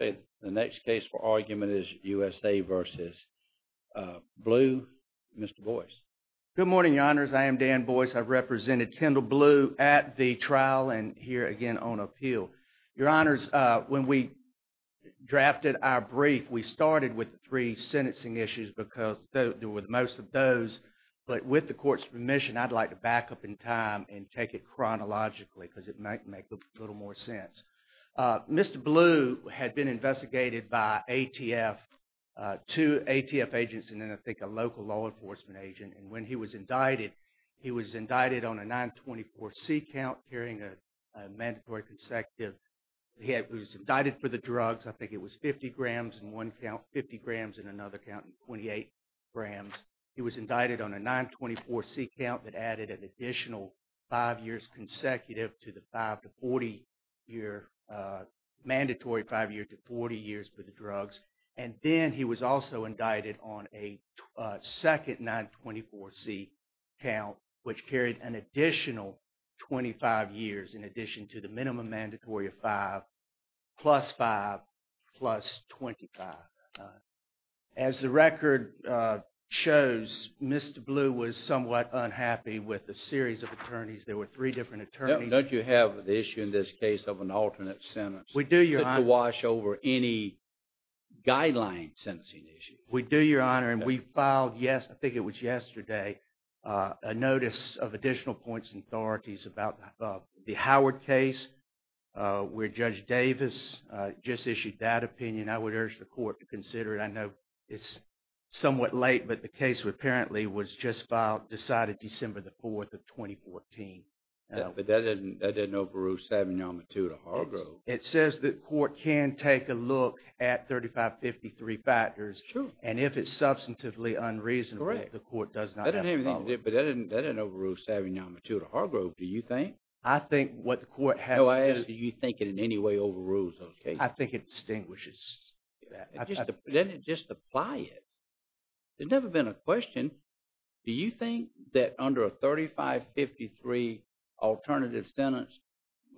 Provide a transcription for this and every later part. and the next case for argument is USA versus Blue. Mr. Boyce. Good morning, your honors. I am Dan Boyce. I represented Kendall Blue at the trial and here again on appeal. Your honors, when we drafted our brief, we started with three sentencing issues because there were most of those, but with the court's permission, I'd like to back up in time and take it chronologically because it might make a little more sense. Mr. Blue had been investigated by ATF, two ATF agents, and then I think a local law enforcement agent, and when he was indicted, he was indicted on a 924C count carrying a mandatory consecutive. He was indicted for the drugs. I think it was 50 grams in one count, 50 grams in another count, and 28 grams. He was indicted on a 924C count that added an additional five years consecutive to the five to 40 year mandatory, five year to 40 years for the drugs. And then he was also indicted on a second 924C count, which carried an additional 25 years in addition to the minimum mandatory of five, plus five, plus 25. As the record shows, Mr. Blue was somewhat unhappy with the series of attorneys. There were three different attorneys. Don't you have the issue in this case of an alternate sentence? We do, your honor. To wash over any guideline sentencing issue. We do, your honor, and we filed yes, I think it was yesterday, a notice of additional points and authorities about the Howard case, where Judge Davis just issued that opinion. I would urge the court to consider it. I know it's somewhat late, but the case apparently was just filed, decided December the 4th of 2014. But that didn't overrule Savignal-Mattoo to Hargrove. It says the court can take a look at 3553 factors, and if it's substantively unreasonable, the court does not have a problem. But that didn't overrule Savignal-Mattoo to Hargrove, do you think? I think what the court has... No, I ask do you think it in any way overrules those cases? I think it distinguishes that. Doesn't it just apply it? There's never been a question. Do you think that under a 3553 alternative sentence,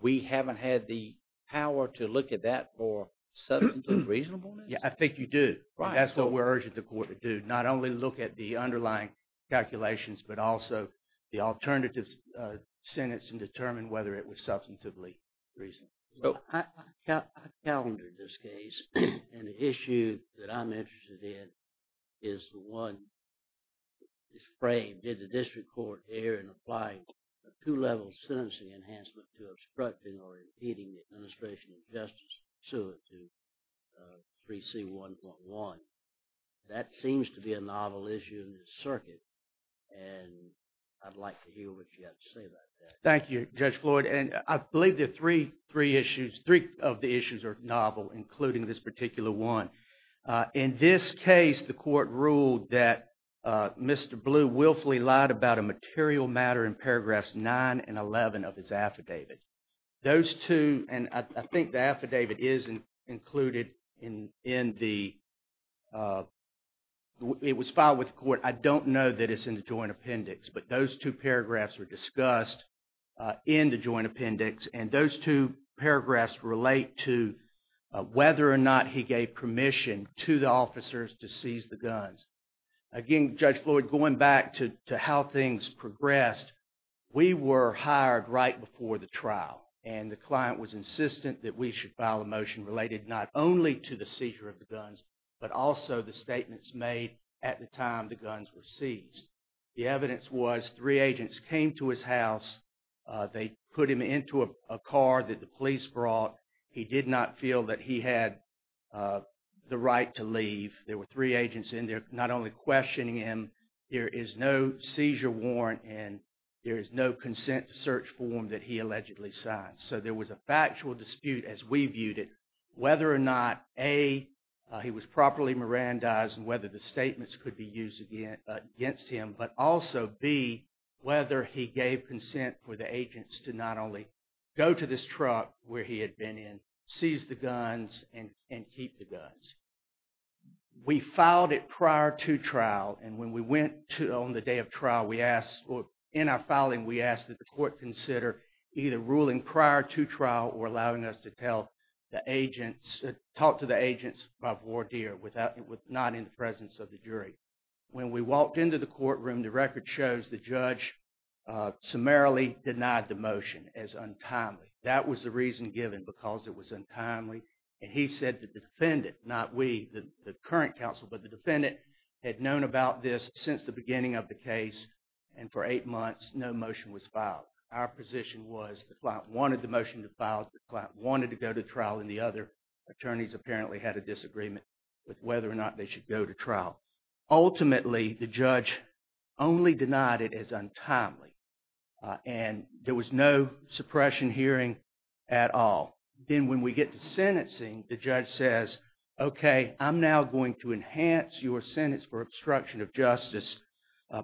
we haven't had the power to look at that for substantively reasonableness? Yeah, I think you do. That's what we're looking at, the underlying calculations, but also the alternative sentence and determine whether it was substantively reasonable. I've calendared this case, and the issue that I'm interested in is the one that's framed. Did the district court err in applying a two-level sentencing enhancement to obstructing or impeding the administration of justice pursuant to 3C1.1? That seems to be a novel issue in the circuit, and I'd like to hear what you have to say about that. Thank you, Judge Floyd, and I believe the three of the issues are novel, including this particular one. In this case, the court ruled that Mr. Blue willfully lied about a material matter in paragraphs 9 and 11 of his affidavit. Those two, and I think the affidavit is included in the, it was filed with the court. I don't know that it's in the joint appendix, but those two paragraphs were discussed in the joint appendix, and those two paragraphs relate to whether or not he gave permission to the officers to seize the guns. Again, Judge Floyd, going back to how things progressed, we were hired right before the trial, and the client was insistent that we should file a motion related not only to the seizure of the guns, but also the statements made at the time the guns were seized. The evidence was three agents came to his house. They put him into a car that the police brought. He did not feel that he had the right to leave. There were three agents in there not only questioning him. There is no consent to search form that he allegedly signed, so there was a factual dispute as we viewed it whether or not A, he was properly Mirandized and whether the statements could be used against him, but also B, whether he gave consent for the agents to not only go to this truck where he had been in, seize the guns, and keep the guns. We filed it prior to trial, and when we went to on the day trial, we asked, or in our filing, we asked that the court consider either ruling prior to trial or allowing us to tell the agents, talk to the agents of Wardeer without, not in the presence of the jury. When we walked into the courtroom, the record shows the judge summarily denied the motion as untimely. That was the reason given because it was untimely, and he said that the defendant, not we, the current counsel, but the defendant had known about this since the beginning of the case, and for eight months no motion was filed. Our position was the client wanted the motion to file, the client wanted to go to trial, and the other attorneys apparently had a disagreement with whether or not they should go to trial. Ultimately, the judge only denied it as untimely, and there was no suppression hearing at all. Then when we get to sentencing, the judge says, okay, I'm now going to enhance your sentence for obstruction of justice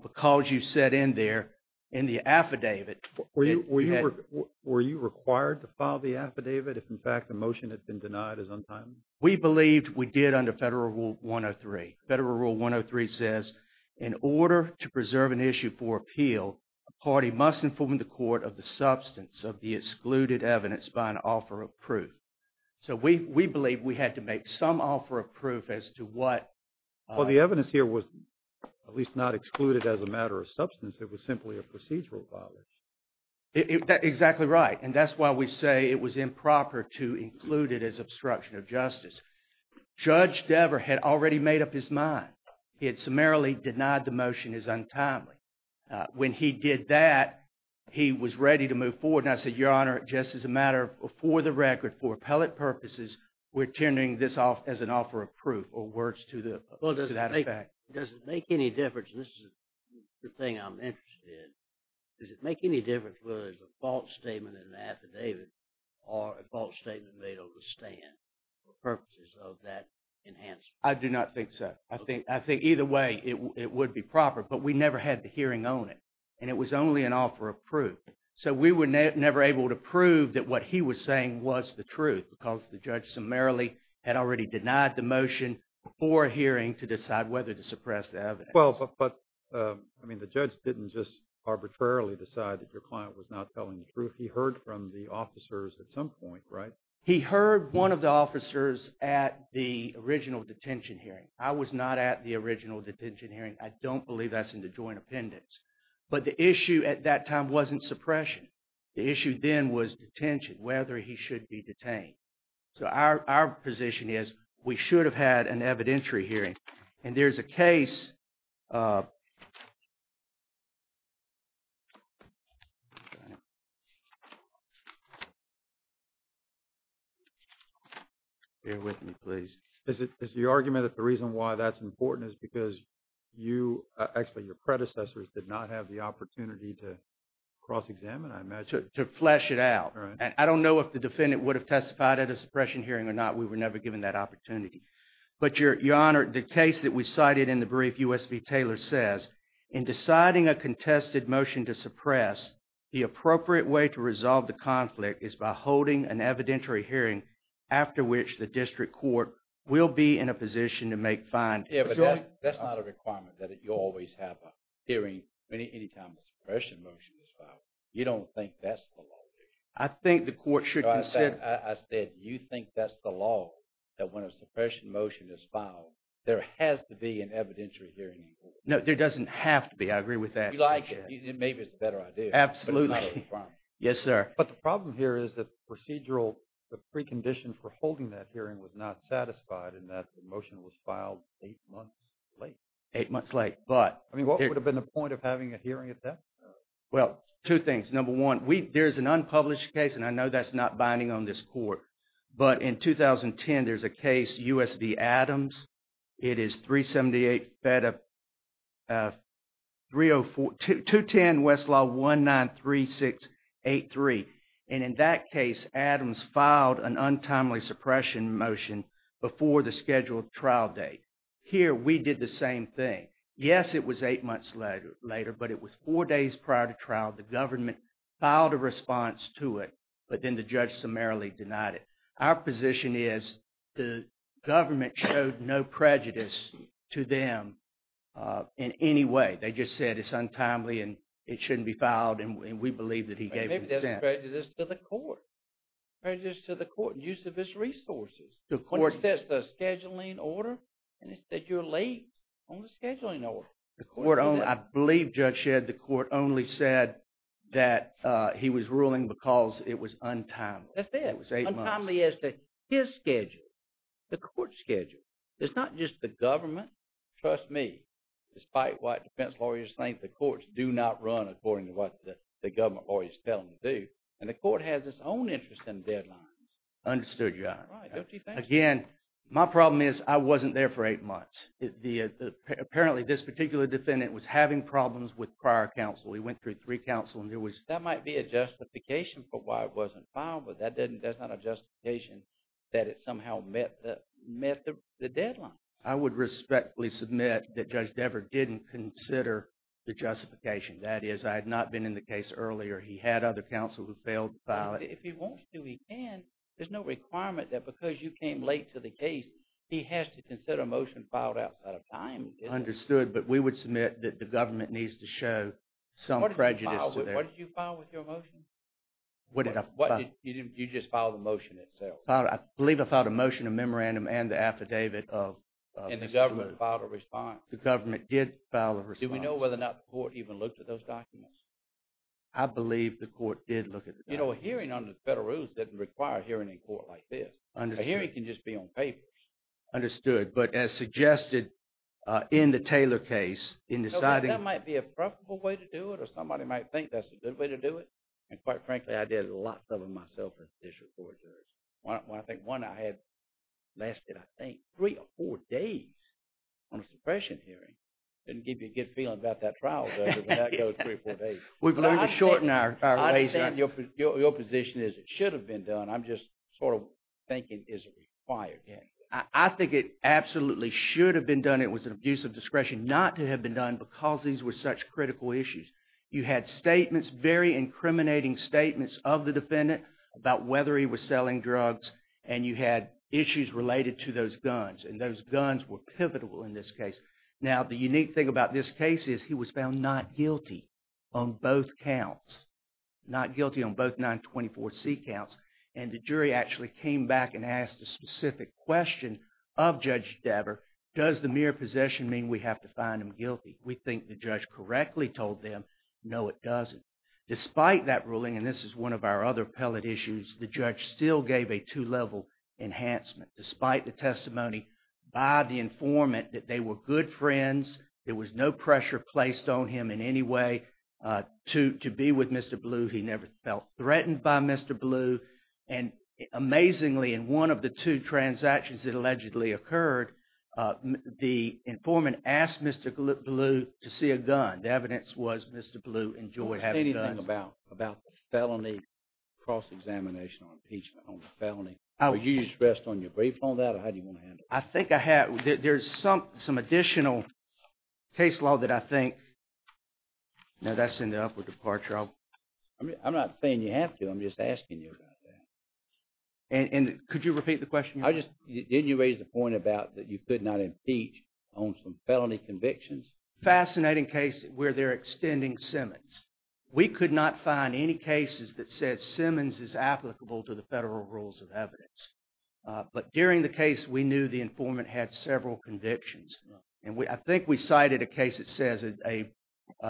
because you set in there in the affidavit. Were you required to file the affidavit if in fact the motion had been denied as untimely? We believed we did under Federal Rule 103. Federal Rule 103 says, in order to preserve an issue for appeal, a party must inform the court of the substance of the excluded evidence by an offer of proof. So we believe we had to make some offer of proof as to what... Well, the evidence here was at least not excluded as a matter of substance. It was simply a procedural violence. Exactly right, and that's why we say it was improper to include it as obstruction of justice. Judge Dever had already made up his mind. He had summarily denied the motion as untimely. When he did that, he was ready to move forward, and I said, Your Honor, just as a matter of, for the record, for appellate purposes, we're turning this off as an offer of proof or words to that effect. Well, does it make any difference, and this is the thing I'm interested in, does it make any difference whether it's a false statement in the affidavit or a false statement made over the stand for purposes of that enhancement? I do not think so. I think either way it would be proper, but we never had the hearing on it, and it was only an offer of proof. So we were never able to prove that what he was saying was the truth because the judge summarily had already denied the motion before hearing to decide whether to suppress the evidence. Well, but I mean the judge didn't just arbitrarily decide that your client was not telling the truth. He heard from the officers at some point, right? He heard one of the officers at the original detention hearing. I don't believe that's in the joint appendix, but the issue at that time wasn't suppression. The issue then was detention, whether he should be detained. So our position is we should have had an evidentiary hearing, and there's a case. Bear with me, please. Is the argument that the reason why that's important is because you, actually your predecessors, did not have the opportunity to cross-examine, I imagine? To flesh it out, and I don't know if the defendant would have testified at a suppression hearing or not. We were never given that opportunity, but your honor, the case that we cited in the brief, U.S. v. Taylor, says, in deciding a contested motion to suppress, the appropriate way to resolve the conflict is by holding an evidentiary hearing after which the district court will be in a position to make findings. Yeah, but that's not a requirement that you always have a hearing anytime a suppression motion is filed. You don't think that's the law, do you? I think the court should consider. I said you think that's the law, that when a suppression motion is filed, there has to be an evidentiary hearing. No, there doesn't have to be. I agree with that. You like it. Maybe it's a better idea. Absolutely. Yes, sir. But the problem here is that the procedural, the precondition for holding that hearing was not satisfied in that the motion was filed eight months late. Eight months late, but. I mean, what would have been the point of having a hearing at that? Well, two things. Number one, there's an unpublished case, and I know that's not binding on this court, but in 2010, there's a case, U.S. v. Adams. It is 378 FEDA 304, 210 Westlaw 193683. And in that case, Adams filed an untimely suppression motion before the scheduled trial date. Here, we did the same thing. Yes, it was eight months later, but it was four days prior to trial. The government filed a response to it, but then the judge summarily denied it. Our position is the government showed no prejudice to them in any way. They just said it's untimely, and it shouldn't be filed, and we believe that he gave consent. Maybe there's prejudice to the court. Prejudice to the court, use of its resources. When he says the scheduling order, and he said you're late on the scheduling order. I believe, Judge Shedd, the court only said that he was ruling because it was untimely. That's it. It was eight months. Untimely as to his schedule, the court's schedule. It's not just the government. Trust me, despite what defense lawyers think, the courts do not run according to what the government lawyers tell them to do, and the court has its own interest in deadlines. Understood, Your Honor. Again, my problem is I wasn't there for eight months. Apparently, this particular defendant was having problems with prior counsel. He went through three counsel, and there was- That might be a justification for why it wasn't filed, but that's not a justification that it somehow met the deadline. I would respectfully submit that Judge Dever didn't consider the justification. That is, I had not been in the case earlier. He had other counsel who failed to file it. If he wants to, he can. There's no requirement that because you came late to the case, he has to consider a motion filed outside of time. Understood, but we would submit that the government needs to show some prejudice. What did you file with your motion? What did I file? You just filed the motion itself. I believe I filed a motion, a memorandum, and the affidavit of- And the government filed a response. The government did file a response. Do we know whether or not the court even looked at those documents? I believe the court did look at the documents. A hearing under the federal rules doesn't require a hearing in court like this. A hearing can just be on papers. Understood, but as suggested in the Taylor case, in deciding- That might be a profitable way to do it, or somebody might think that's a good way to do it, and quite frankly, I did lots of them myself as a judicial court judge. I think one I had lasted, I think, three or four days on a suppression hearing. Didn't give you a good feeling about that trial, though, when that goes three or four days. We've learned to shorten our ways. I understand your position is it should have been done. I'm just sort of thinking is it required. I think it absolutely should have been done. It was an abuse of discretion not to have been done because these were such critical issues. You had statements, very incriminating statements of the defendant about whether he was selling drugs, and you had issues related to those guns, and those guns were pivotal in this case. Now, the unique thing about this case is he was found not guilty on both counts, not guilty on both 924C counts, and the jury actually came back and asked a specific question of Judge Dabber, does the mere possession mean we have to find him guilty? We think the judge correctly told them, no, it doesn't. Despite that ruling, and this is one of our other appellate issues, the judge still gave a two-level enhancement. Despite the testimony by the informant that they were good friends, there was no pressure placed on him in any way to be with Mr. Blue. He never felt threatened by Mr. Blue, and amazingly, in one of the two transactions that allegedly occurred, the informant asked Mr. Blue to see a gun. The evidence was Mr. Blue enjoyed having guns. Anything about the felony cross-examination or impeachment on the felony? Were you stressed on your brief on that, or how do you want to handle that? There's some additional case law that I think, now that's in the upward departure, I'm not saying you have to, I'm just asking you about that. And could you repeat the question? I just, didn't you raise the point about that you could not impeach on some felony convictions? Fascinating case where they're extending Simmons. We could not find any cases that said Simmons is several convictions. And I think we cited a case that says a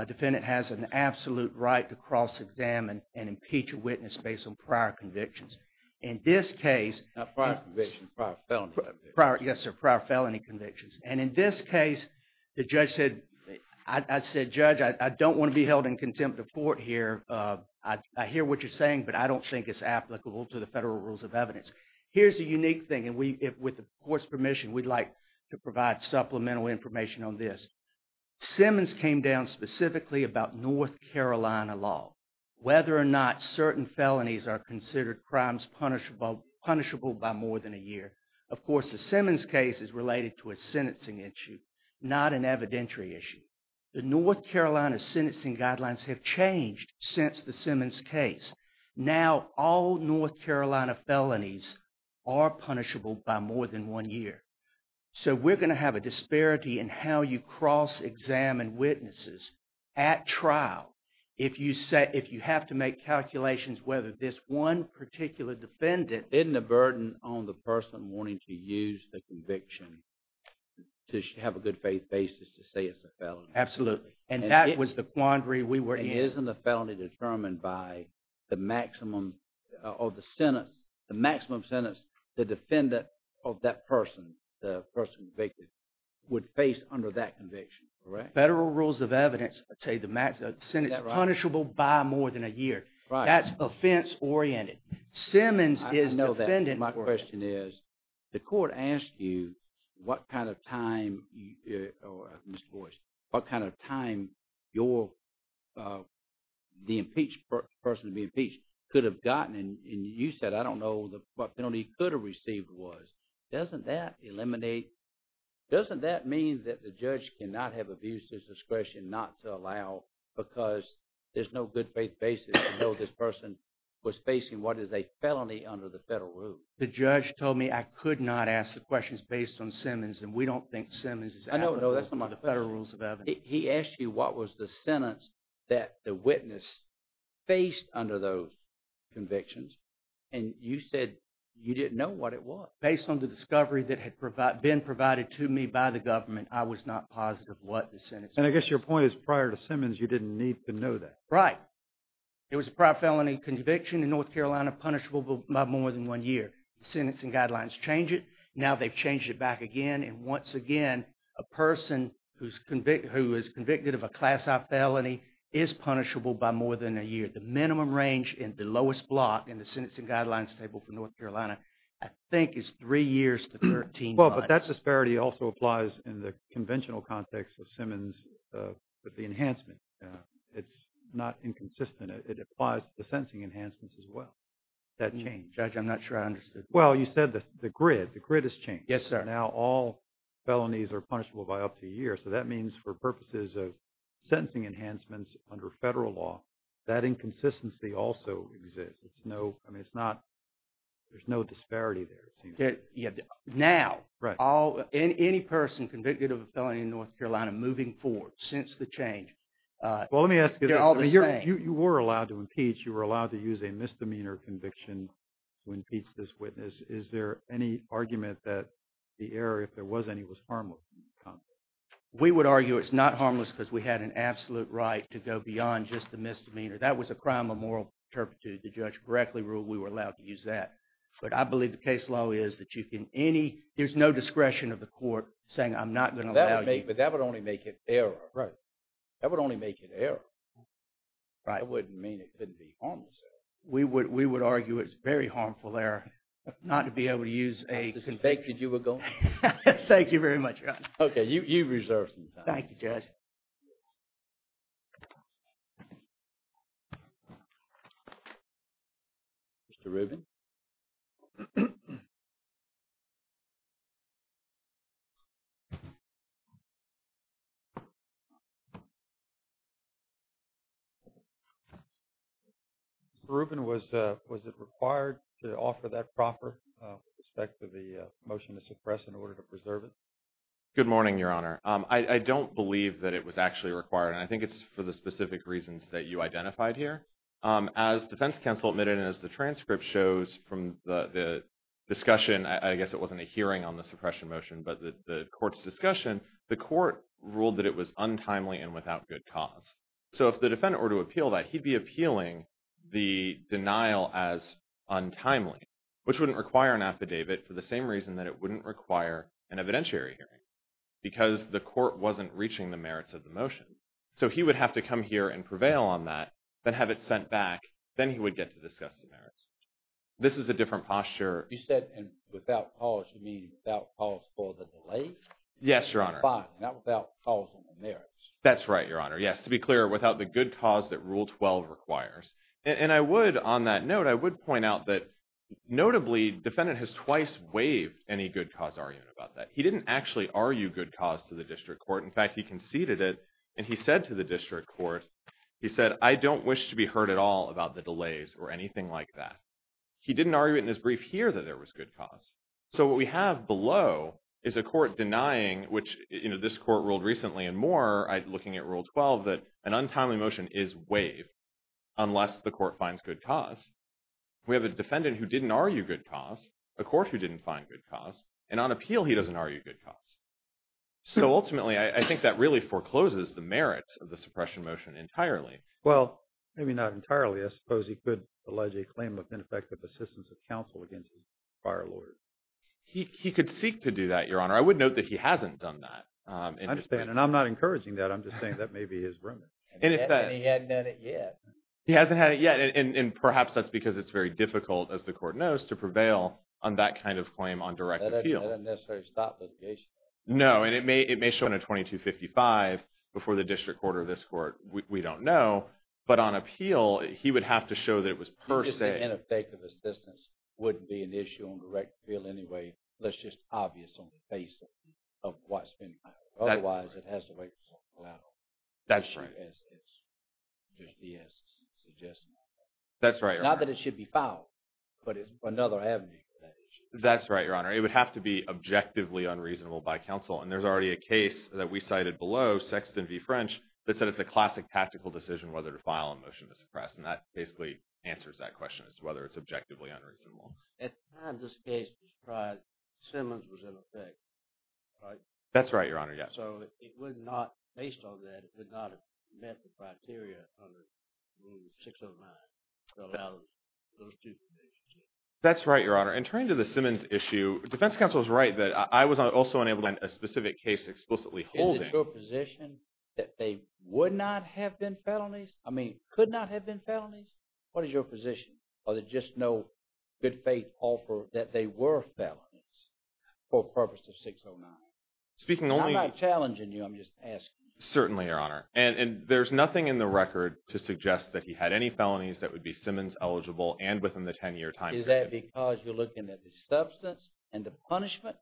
defendant has an absolute right to cross-examine and impeach a witness based on prior convictions. In this case... Not prior convictions, prior felony convictions. Yes, sir, prior felony convictions. And in this case, the judge said, I said, Judge, I don't want to be held in contempt of court here. I hear what you're saying, but I don't think it's applicable to the federal rules of evidence. Here's a unique thing. And with the court's permission, we'd like to provide supplemental information on this. Simmons came down specifically about North Carolina law, whether or not certain felonies are considered crimes punishable by more than a year. Of course, the Simmons case is related to a sentencing issue, not an evidentiary issue. The North Carolina sentencing guidelines have changed since the Simmons case. Now, all North Carolina felonies are punishable by more than one year. So we're going to have a disparity in how you cross-examine witnesses at trial. If you have to make calculations, whether this one particular defendant... Isn't the burden on the person wanting to use the conviction to have a good faith basis to say it's a felony? Absolutely. And that was the quandary we were in. Isn't the felony determined by the maximum of the sentence, the maximum sentence the defendant of that person, the person convicted, would face under that conviction? Correct. Federal rules of evidence say the maximum sentence is punishable by more than a year. That's offense-oriented. Simmons is... I know that. My question is, the court asked you what kind of time, Mr. Boyce, what kind of time the impeached person to be impeached could have gotten. And you said, I don't know what penalty he could have received was. Doesn't that eliminate... Doesn't that mean that the judge cannot have abuse of discretion not to allow because there's no good faith basis to know this person was facing what is a felony under the federal rules? The judge told me I could not ask the questions based on Simmons. And we don't think Simmons is... No, that's not about the federal rules of evidence. He asked you what was the sentence that the witness faced under those convictions. And you said you didn't know what it was. Based on the discovery that had been provided to me by the government, I was not positive what the sentence... And I guess your point is prior to Simmons, you didn't need to know that. Right. It was a prior felony conviction in North Carolina punishable by more than one year. The sentencing guidelines change it. Now they've changed it back again. And once again, a person who is convicted of a class-I felony is punishable by more than a year. The minimum range in the lowest block in the sentencing guidelines table for North Carolina, I think, is three years to 13 months. Well, but that disparity also applies in the conventional context of Simmons with the enhancement. It's not inconsistent. It applies to the sentencing enhancements as well. That changed. Judge, I'm not sure I understood. Well, you said the grid. The grid has changed. Yes, sir. All felonies are punishable by up to a year. So that means for purposes of sentencing enhancements under federal law, that inconsistency also exists. There's no disparity there. Now, any person convicted of a felony in North Carolina moving forward since the change... Well, let me ask you this. They're all the same. You were allowed to impeach. You were allowed to use a misdemeanor conviction to impeach this witness. Is there any argument that the error, if there was any, was harmless in this context? We would argue it's not harmless because we had an absolute right to go beyond just the misdemeanor. That was a crime of moral turpitude. The judge correctly ruled we were allowed to use that. But I believe the case law is that you can any... There's no discretion of the court saying, I'm not going to allow you... But that would only make it error. Right. That would only make it error. Right. That wouldn't mean it couldn't be harmless error. We would argue it's very harmful error not to be able to use a... The convicted, you were going... Thank you very much, Judge. Okay. You've reserved some time. Thank you, Judge. Mr. Rubin? Mr. Rubin, was it required to offer that proper with respect to the motion to suppress in order to preserve it? Good morning, Your Honor. I don't believe that it was actually required. And I think it's for specific reasons that you identified here. As defense counsel admitted, and as the transcript shows from the discussion, I guess it wasn't a hearing on the suppression motion, but the court's discussion, the court ruled that it was untimely and without good cause. So if the defendant were to appeal that, he'd be appealing the denial as untimely, which wouldn't require an affidavit for the same reason that it wouldn't require an evidentiary hearing, because the court wasn't reaching the merits of the motion. So he would have to come here and prevail on that, then have it sent back. Then he would get to discuss the merits. This is a different posture. You said, and without cause, you mean without cause for the delay? Yes, Your Honor. Fine. Not without cause on the merits. That's right, Your Honor. Yes. To be clear, without the good cause that Rule 12 requires. And I would, on that note, I would point out that notably defendant has twice waived any good cause argument about that. He didn't actually argue good cause to the district court. In fact, he conceded it, and he said to the district court, he said, I don't wish to be heard at all about the delays or anything like that. He didn't argue it in his brief here that there was good cause. So what we have below is a court denying, which this court ruled recently and more, looking at Rule 12, that an untimely motion is waived unless the court finds good cause. We have a defendant who didn't argue good cause, a court who didn't find good cause, and on appeal, he doesn't argue good cause. So ultimately, I think that really forecloses the merits of the suppression motion entirely. Well, maybe not entirely. I suppose he could allege a claim of ineffective assistance of counsel against his fire lawyer. He could seek to do that, Your Honor. I would note that he hasn't done that. I understand. And I'm not encouraging that. I'm just saying that may be his room. He hasn't had it yet. He hasn't had it yet. And perhaps that's because it's very difficult, as the court knows, to prevail on that kind of claim on direct appeal. That doesn't necessarily stop litigation. No. And it may show in a 2255 before the district court or this court. We don't know. But on appeal, he would have to show that it was per se. Ineffective assistance wouldn't be an issue on direct appeal anyway. That's just obvious on the basis of what's been filed. Otherwise, it has to wait for something to come out. That's right. As the judge has suggested. That's right, Your Honor. Not that it should be filed, but it's another avenue. That's right, Your Honor. It would have to be objectively unreasonable by counsel. And there's already a case that we cited below, Sexton v. French, that said it's a classic tactical decision whether to file a motion to suppress. And that basically answers that question as to whether it's objectively unreasonable. At the time this case was tried, Simmons was in effect, right? That's right, Your Honor. Yes. It would not, based on that, it would not have met the criteria under 609 to allow those two cases. That's right, Your Honor. And turning to the Simmons issue, defense counsel is right that I was also unable to find a specific case explicitly holding. Is it your position that they would not have been felonies? I mean, could not have been felonies? What is your position? Or that just no good faith offer that they were felonies for purpose of 609? I'm not challenging you. I'm just asking. Certainly, Your Honor. And there's nothing in the record to suggest that he had any felonies that would be Simmons-eligible and within the 10-year time period. Is that because you're looking at the substance and the punishment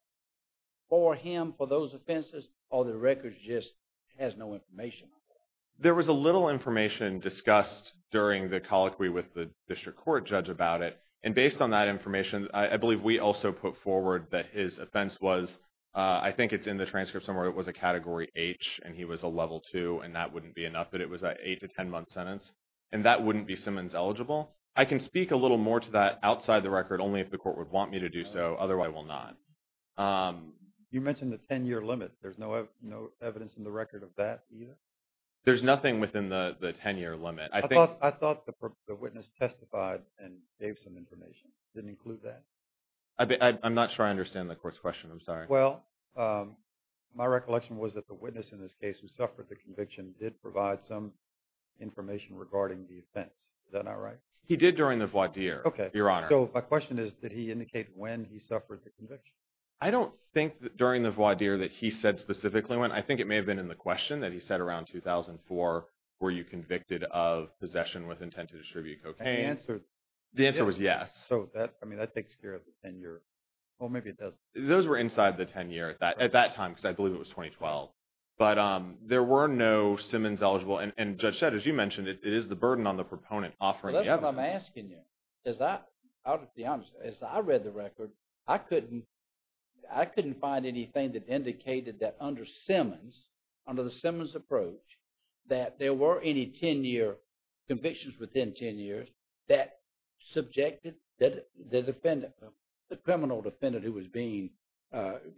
for him, for those offenses, or the record just has no information on that? There was a little information discussed during the colloquy with the district court judge about it. And based on that information, I believe we also put forward that his offense was, I think it's in the transcript somewhere, it was a Category H and he was a Level II, and that wouldn't be enough, that it was an 8- to 10-month sentence. And that wouldn't be Simmons-eligible. I can speak a little more to that outside the record only if the court would want me to do so. Otherwise, I will not. You mentioned the 10-year limit. There's no evidence in the record of that either? There's nothing within the 10-year limit. I thought the witness testified and gave some information. It didn't include that? I'm not sure I understand the court's question. Well, my recollection was that the witness in this case who suffered the conviction did provide some information regarding the offense. Is that not right? He did during the voir dire, Your Honor. So my question is, did he indicate when he suffered the conviction? I don't think during the voir dire that he said specifically when. I think it may have been in the question that he said around 2004 were you convicted of possession with intent to distribute cocaine. The answer was yes. So that, I mean, that takes care of the 10-year, or maybe it doesn't. Those were inside the 10-year at that time because I believe it was 2012. But there were no Simmons eligible. And Judge Shedd, as you mentioned, it is the burden on the proponent offering evidence. That's what I'm asking you. As I read the record, I couldn't find anything that indicated that under Simmons, under the Simmons approach, that there were any 10-year convictions within 10 years that subjected the defendant, the criminal defendant who was being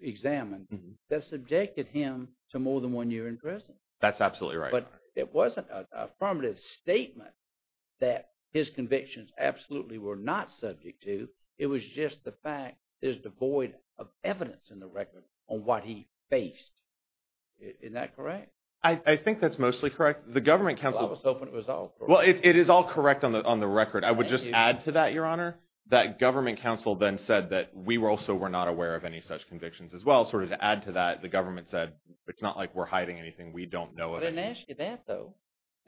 examined, that subjected him to more than one year in prison. That's absolutely right, Your Honor. But it wasn't an affirmative statement that his convictions absolutely were not subject to. It was just the fact there's devoid of evidence in the record on what he faced. Is that correct? I think that's mostly correct. The government counsel— Well, I was hoping it was all correct. It is all correct on the record. I would just add to that, Your Honor, that government counsel then said that we also were not aware of any such convictions as well. Sort of to add to that, the government said, it's not like we're hiding anything. We don't know it. I didn't ask you that, though.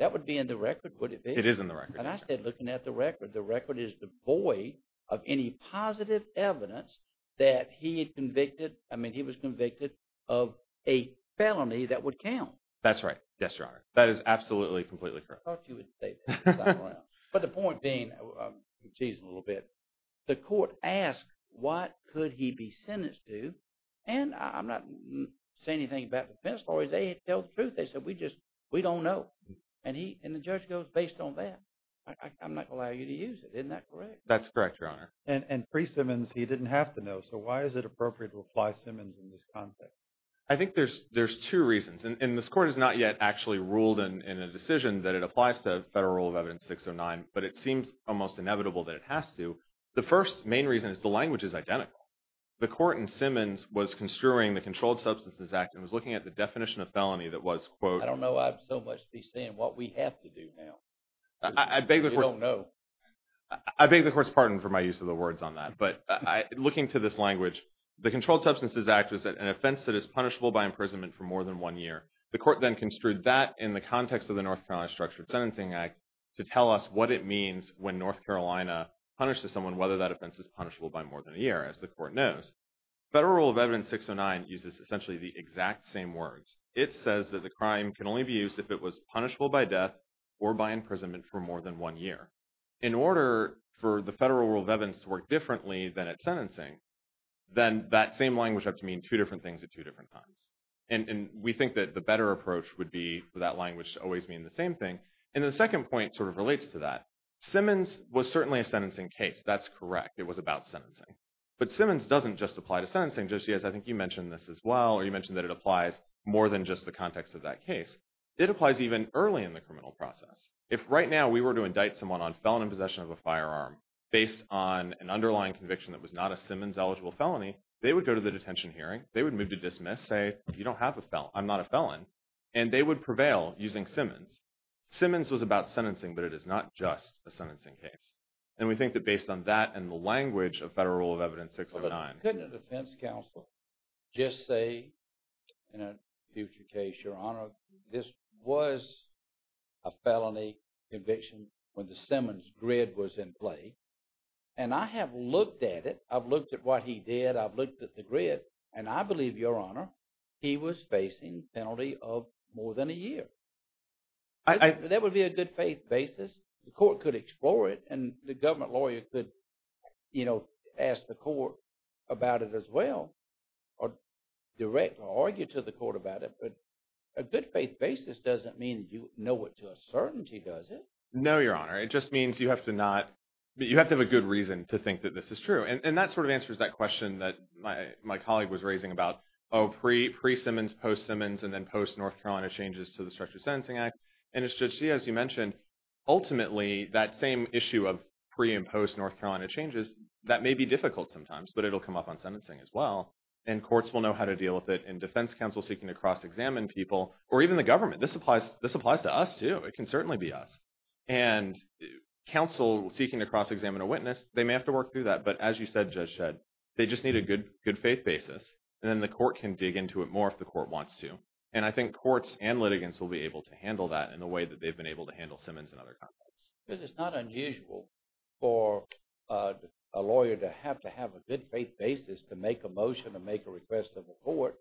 That would be in the record, would it be? It is in the record. And I said, looking at the record, the record is devoid of any positive evidence that he was convicted of a felony that would count. That's right. Yes, Your Honor. That is absolutely, completely correct. I thought you would say that. But the point being, I'm teasing a little bit, the court asked, what could he be sentenced to? And I'm not saying anything about the defense lawyers. They tell the truth. They said, we don't know. And the judge goes, based on that, I'm not going to allow you to use it. Isn't that correct? That's correct, Your Honor. And Free Simmons, he didn't have to know. So why is it appropriate to apply Simmons in this context? I think there's two reasons. And this court has not yet actually ruled in a decision that it applies to Federal Rule of Evidence 609, but it seems almost inevitable that it has to. The first main reason is the language is identical. The court in Simmons was construing the Controlled Substances Act and was looking at the definition of felony that was, quote, I don't know. I'd so much be saying what we have to do now. I beg the court's pardon for my use of the words on that. But looking to this language, the Controlled Substances Act is an offense that is punishable by imprisonment for more than one year. The court then construed that in the context of North Carolina Structured Sentencing Act to tell us what it means when North Carolina punishes someone, whether that offense is punishable by more than a year, as the court knows. Federal Rule of Evidence 609 uses essentially the exact same words. It says that the crime can only be used if it was punishable by death or by imprisonment for more than one year. In order for the Federal Rule of Evidence to work differently than its sentencing, then that same language would have to mean two different things at two different times. And we think that the better approach would be for that language to always mean the same thing. And the second point sort of relates to that. Simmons was certainly a sentencing case. That's correct. It was about sentencing. But Simmons doesn't just apply to sentencing. Judge Diaz, I think you mentioned this as well, or you mentioned that it applies more than just the context of that case. It applies even early in the criminal process. If right now we were to indict someone on felony possession of a firearm based on an underlying conviction that was not a Simmons-eligible felony, they would go to the detention hearing. They would move to dismiss, say, you don't have a felon. I'm not a felon. And they would prevail using Simmons. Simmons was about sentencing, but it is not just a sentencing case. And we think that based on that and the language of Federal Rule of Evidence 609— Couldn't a defense counsel just say in a future case, Your Honor, this was a felony conviction when the Simmons grid was in play? And I have looked at it. I've looked at what he did. I've looked at the grid, and I believe, Your Honor, he was facing penalty of more than a year. That would be a good-faith basis. The court could explore it, and the government lawyer could, you know, ask the court about it as well or direct or argue to the court about it. But a good-faith basis doesn't mean you know it to a certainty, does it? No, Your Honor. It just means you have to not—you have to have a good reason to think that this is true. And that sort of answers that question that my colleague was raising about, oh, pre-Simmons, post-Simmons, and then post-North Carolina changes to the Structured Sentencing Act. And it's just, as you mentioned, ultimately that same issue of pre- and post-North Carolina changes, that may be difficult sometimes, but it'll come up on sentencing as well. And courts will know how to deal with it. And defense counsel seeking to cross-examine people or even the government. This applies to us, too. It can certainly be us. And counsel seeking to cross-examine a witness, they may have to work through that. But as you said, Judge Shedd, they just need a good-faith basis. And then the court can dig into it more if the court wants to. And I think courts and litigants will be able to handle that in the way that they've been able to handle Simmons and other conflicts. Because it's not unusual for a lawyer to have to have a good-faith basis to make a motion or make a request of the court.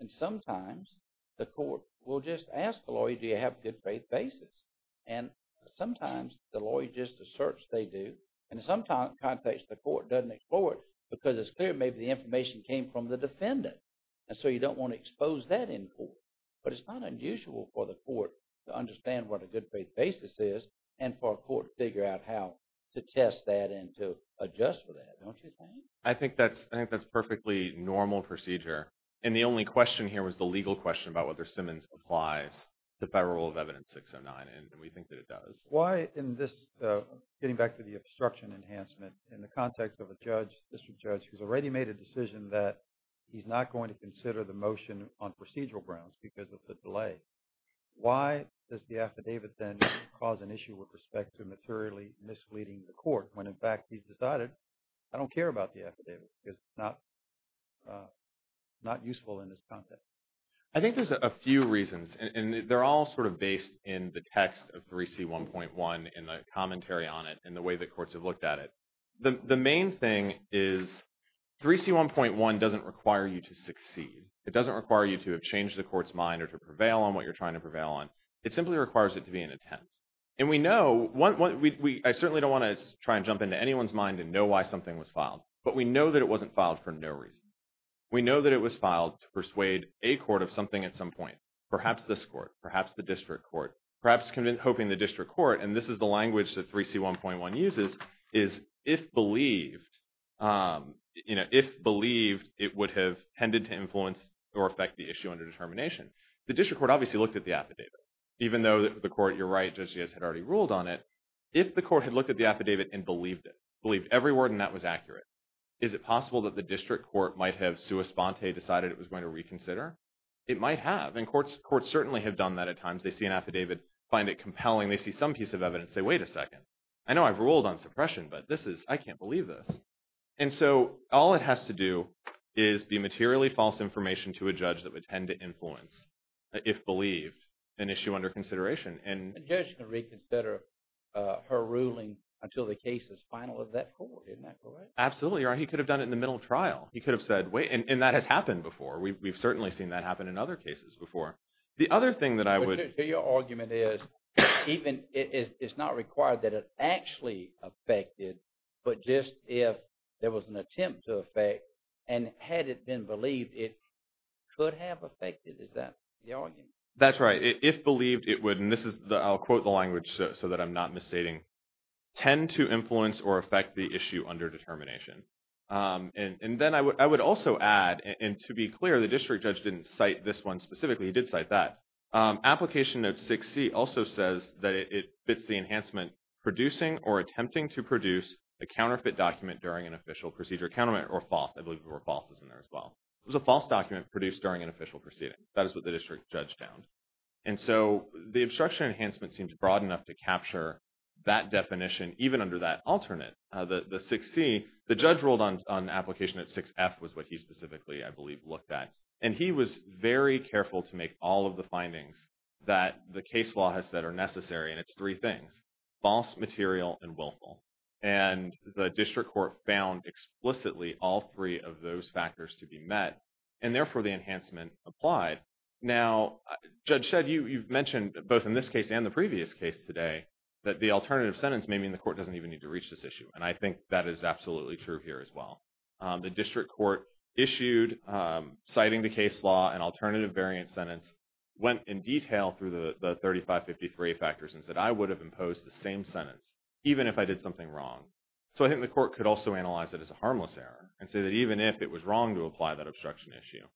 And sometimes the court will just ask the lawyer, do you have a good-faith basis? And sometimes the lawyer just asserts they do. And sometimes the context of the court doesn't explore it because it's clear maybe the information came from the defendant. And so you don't want to expose that in court. But it's not unusual for the court to understand what a good-faith basis is and for a court to figure out how to test that and to adjust for that, don't you think? I think that's a perfectly normal procedure. And the only question here was the legal question about whether Simmons applies to Federal Rule of Evidence 609. And we think that it does. Why in this, getting back to the obstruction enhancement, in the context of a judge, district judge, who's already made a decision that he's not going to consider the motion on procedural grounds because of the delay, why does the affidavit then cause an issue with respect to materially misleading the court when, in fact, he's decided I don't care about the affidavit because it's not useful in this context? I think there's a few reasons. And they're all sort of based in the text of 3C1.1 and the commentary on it and the way that courts have looked at it. The main thing is 3C1.1 doesn't require you to succeed. It doesn't require you to have changed the court's mind or to prevail on what you're trying to prevail on. It simply requires it to be an attempt. And we know, I certainly don't want to try and jump into anyone's mind and know why something was filed. But we know that it wasn't filed for no reason. We know that it was filed to persuade a court of something at some point, perhaps this court, perhaps the district court, perhaps hoping the district court, and this is the language that 3C1.1 uses, is if believed, you know, if believed, it would have tended to influence or affect the issue under determination. The district court obviously looked at the affidavit, even though the court, you're right, Judge Diaz had already ruled on it. If the court had looked at the affidavit and believed it, believed every word in that was accurate, is it possible that the district court might have sua sponte decided it was going to reconsider? It might have. Courts certainly have done that at times. They see an affidavit, find it compelling. They see some piece of evidence, say, wait a second, I know I've ruled on suppression, but this is, I can't believe this. And so all it has to do is be materially false information to a judge that would tend to influence, if believed, an issue under consideration. And the judge can reconsider her ruling until the case is final of that court, isn't that correct? Absolutely, you're right. He could have done it in the middle of trial. He could have said, wait, and that has happened before. We've certainly seen that happen in other cases before. The other thing that I would- So your argument is, it's not required that it actually affected, but just if there was an attempt to affect, and had it been believed, it could have affected. Is that the argument? That's right. If believed, it would, and this is, I'll quote the language so that I'm not misstating, tend to influence or affect the issue under determination. And then I would also add, and to be clear, the district judge didn't cite this one specifically. He did cite that. Application note 6C also says that it fits the enhancement producing or attempting to produce a counterfeit document during an official procedure, counterfeit or false. I believe there were falses in there as well. It was a false document produced during an official proceeding. That is what the district judge found. And so the obstruction enhancement seems broad enough to capture that definition, even under that alternate, the 6C, the judge ruled on application at 6F was what he specifically, I believe, looked at. And he was very careful to make all of the findings that the case law has said are necessary, and it's three things, false, material, and willful. And the district court found explicitly all three of those factors to be met, and therefore the enhancement applied. Now, Judge Shedd, you've mentioned both in this case and the previous case today that the alternative sentence in the court doesn't even need to reach this issue. And I think that is absolutely true here as well. The district court issued citing the case law an alternative variant sentence, went in detail through the 3553 factors and said, I would have imposed the same sentence even if I did something wrong. So I think the court could also analyze it as a harmless error and say that even if it was wrong to apply that obstruction issue,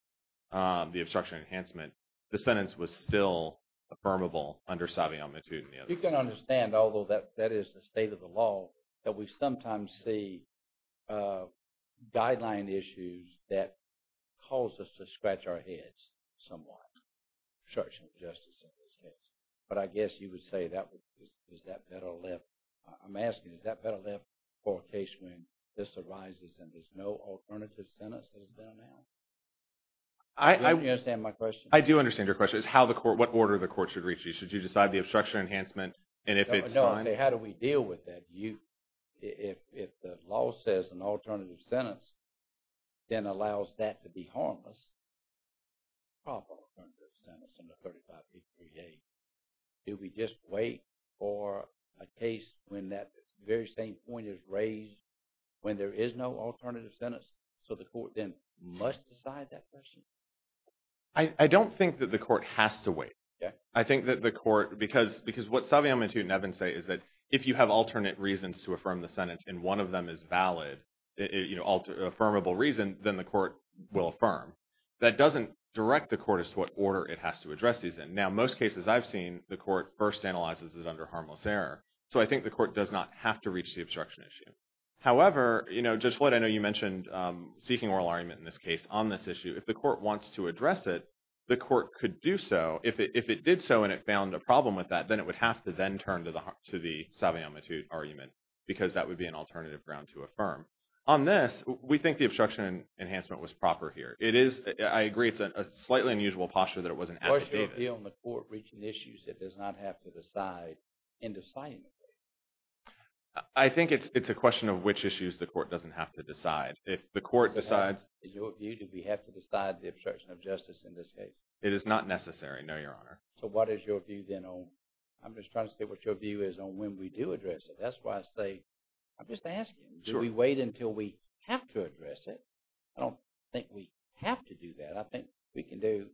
the obstruction enhancement, the sentence was still affirmable under savvy omnitude in the other case. You can understand, although that is the state of the law, that we sometimes see guideline issues that cause us to scratch our heads somewhat, obstruction of justice in this case. But I guess you would say that is that better left. I'm asking, is that better left for a case when this arises and there's no alternative sentence that is done now? Do you understand my question? I do understand your question. It's how the court, what order the court should reach you. Should you decide the obstruction enhancement? And if it's fine. How do we deal with that? If the law says an alternative sentence then allows that to be harmless, proper alternative sentence in the 3553A, do we just wait for a case when that very same point is raised when there is no alternative sentence? So the court then must decide that question? I don't think that the court has to wait. I think that the court, because what Savion and Nevin say is that if you have alternate reasons to affirm the sentence and one of them is valid, affirmable reason, then the court will affirm. That doesn't direct the court as to what order it has to address these in. Now, most cases I've seen, the court first analyzes it under harmless error. So I think the court does not have to reach the obstruction issue. However, Judge Floyd, I know you mentioned seeking oral argument in this case on this issue. If the court wants to address it, the court could do so. If it did so and it found a problem with that, then it would have to then turn to the Savion-Mattew argument because that would be an alternative ground to affirm. On this, we think the obstruction enhancement was proper here. It is, I agree, it's a slightly unusual posture that it wasn't advocated. What's your view on the court reaching issues that does not have to decide indecisively? I think it's a question of which issues the court doesn't have to decide. If the court decides- Is your view that we have to decide the obstruction of justice in this case? It is not necessary, no, Your Honor. So what is your view then on- I'm just trying to say what your view is on when we do address it. That's why I say, I'm just asking, do we wait until we have to address it? I don't think we have to do that. I think we can do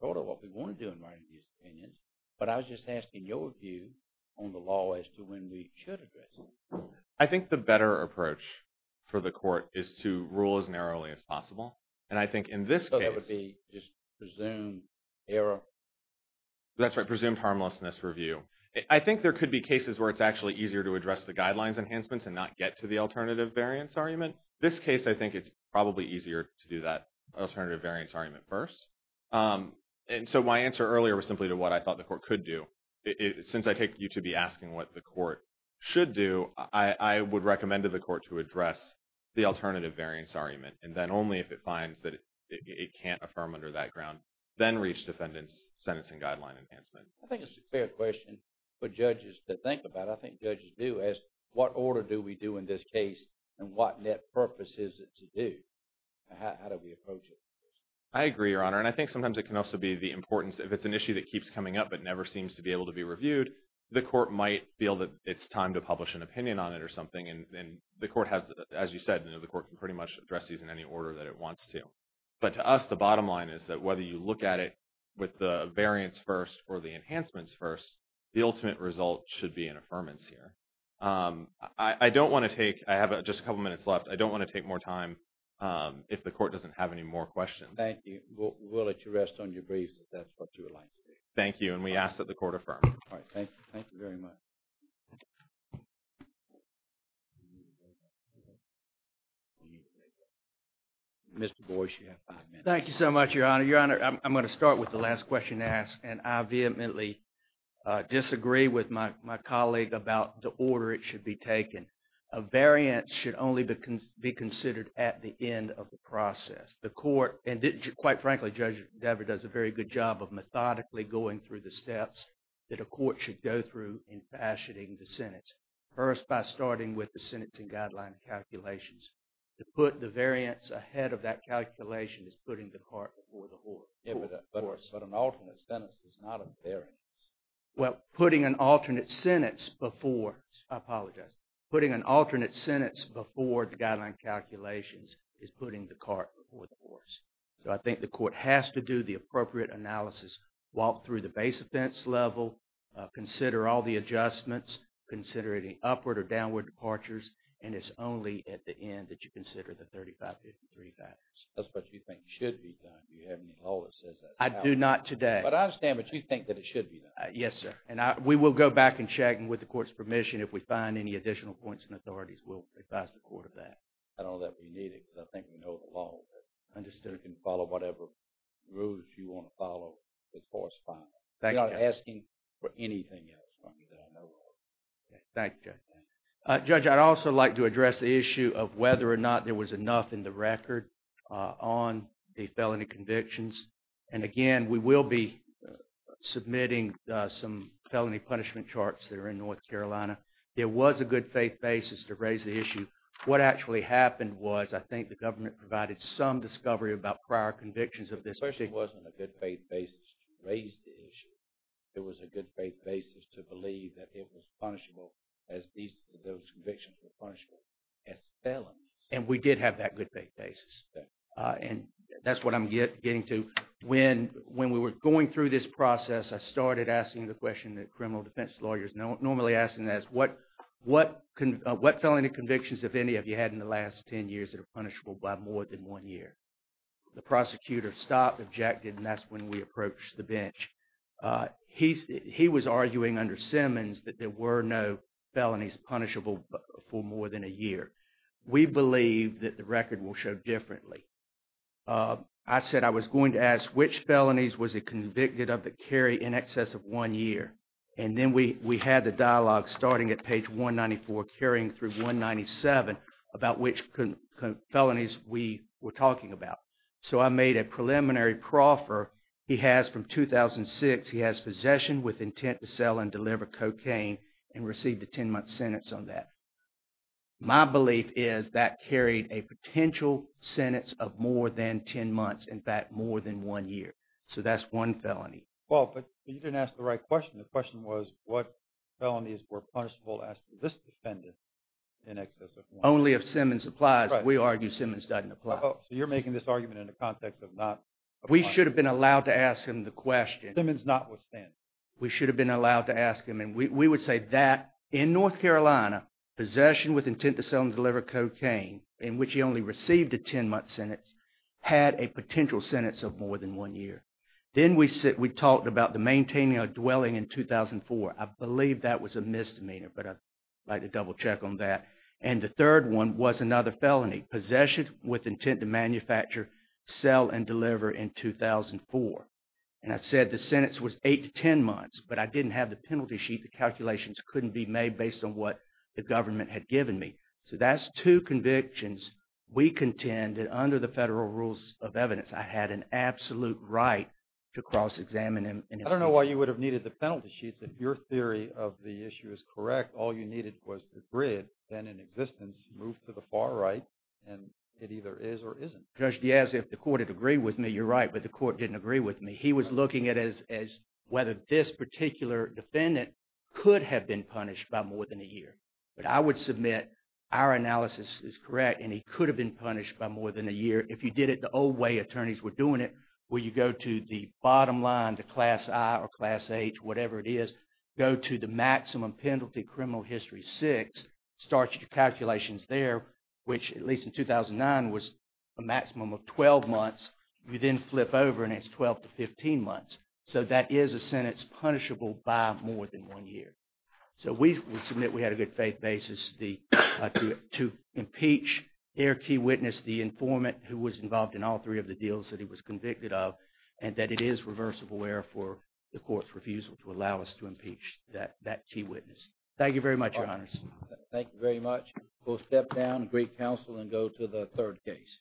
sort of what we want to do in writing these opinions. But I was just asking your view on the law as to when we should address it. I think the better approach for the court is to rule as narrowly as possible. And I think in this case- So that would be just presumed error? That's right, presumed harmlessness review. I think there could be cases where it's actually easier to address the guidelines enhancements and not get to the alternative variance argument. This case, I think it's probably easier to do that alternative variance argument first. And so my answer earlier was simply to what I thought the court could do. Since I take you to be asking what the court should do, I would recommend to the court to address the alternative variance argument. And then only if it finds that it can't affirm under that ground, then reach defendant's sentencing guideline enhancement. I think it's a fair question for judges to think about. I think judges do ask, what order do we do in this case and what net purpose is it to do? How do we approach it? I agree, Your Honor. And I think sometimes it can also be the importance if it's an issue that keeps coming up but never seems to be able to be reviewed, the court might feel that it's time to publish an opinion on it or something. And the court has, as you said, the court can pretty much address these in any order that it wants to. But to us, the bottom line is that whether you look at it with the variance first or the enhancements first, the ultimate result should be an affirmance here. I don't want to take, I have just a couple minutes left. I don't want to take more time if the court doesn't have any more questions. Thank you. We'll let you rest on your breeze if that's what you would like to do. Thank you. And we ask that the court affirm. All right, thank you. Thank you very much. Mr. Boyce, you have five minutes. Thank you so much, Your Honor. Your Honor, I'm going to start with the last question asked. And I vehemently disagree with my colleague about the order it should be taken. A variance should only be considered at the end of the process. The court, and quite frankly, Judge Dever does a very good job of methodically going through the steps that a court should go through in fashioning the sentence. First, by starting with the sentencing guideline calculations. To put the variance ahead of that calculation is putting the cart before the horse. Yeah, but an alternate sentence is not a variance. Well, putting an alternate sentence before, I apologize, putting an alternate sentence before the guideline calculations is putting the cart before the horse. So I think the court has to do the appropriate analysis, walk through the base offense level, consider all the adjustments, consider any upward or downward departures, and it's only at the end that you consider the 3553 factors. That's what you think should be done. Do you have any law that says that? I do not today. But I understand, but you think that it should be done. Yes, sir. And we will go back and check and with the court's permission, if we find any additional points and authorities, we'll advise the court of that. I don't know that we need it because I think we know the law. Understood. You can follow whatever rules you want to follow as far as fine. Thank you. We're not asking for anything else from you that I know of. Thank you, Judge. Judge, I'd also like to address the issue of whether or not there was enough in the record on the felony convictions. And again, we will be submitting some felony punishment charts that are in North Carolina. There was a good faith basis to raise the issue. What actually happened was, I think the government provided some discovery about prior convictions of this person. It wasn't a good faith basis to raise the issue. It was a good faith basis to believe that it was punishable as those convictions were punishable as felons. And we did have that good faith basis. And that's what I'm getting to. When we were going through this process, I started asking the question that criminal defense lawyers normally ask, is what felony convictions have any of you had in the last 10 years that are punishable by more than one year? The prosecutor stopped, objected, and that's when we approached the bench. He was arguing under Simmons that there were no felonies punishable for more than a year. We believe that the record will show differently. I said I was going to ask which felonies was it convicted of that carry in excess of one year. And then we had the dialogue starting at page 194, carrying through 197 about which felonies we were talking about. So I made a preliminary proffer. He has from 2006, he has possession with intent to sell and deliver cocaine and received a 10-month sentence on that. My belief is that carried a potential sentence of more than 10 months, in fact, more than one year. So that's one felony. Well, but you didn't ask the right question. The question was what felonies were punishable as this defendant in excess of one year. Only if Simmons applies. We argue Simmons doesn't apply. So you're making this argument in the context of not. We should have been allowed to ask him the question. Simmons not withstand. We should have been allowed to ask him. And we would say that in North Carolina, possession with intent to sell and deliver cocaine in which he only received a 10-month sentence had a potential sentence of more than one year. Then we talked about the maintaining a dwelling in 2004. I believe that was a misdemeanor, but I'd like to double check on that. And the third one was another felony, possession with intent to manufacture, sell and deliver in 2004. And I said the sentence was eight to 10 months, but I didn't have the penalty sheet. The calculations couldn't be made based on what the government had given me. So that's two convictions. We contend that under the federal rules of evidence, I had an absolute right to cross examine him. I don't know why you would have needed the penalty sheets. If your theory of the issue is correct, all you needed was the grid then in existence, move to the far right. And it either is or isn't. Judge Diaz, if the court had agreed with me, you're right, but the court didn't agree with me. He was looking at as whether this particular defendant could have been punished by more than a year. But I would submit our analysis is correct and he could have been punished by more than a year. If you did it the old way attorneys were doing it, where you go to the bottom line, the class I or class H, whatever it is, go to the maximum penalty criminal history six, start your calculations there, which at least in 2009 was a maximum of 12 months. You then flip over and it's 12 to 15 months. So that is a sentence punishable by more than one year. So we would submit we had a good faith basis to impeach their key witness, the informant who was involved in all three of the deals that he was convicted of and that it is reversible error for the court's refusal to allow us to impeach that key witness. Thank you very much, Your Honors. Thank you very much. We'll step down and greet counsel and go to the third case.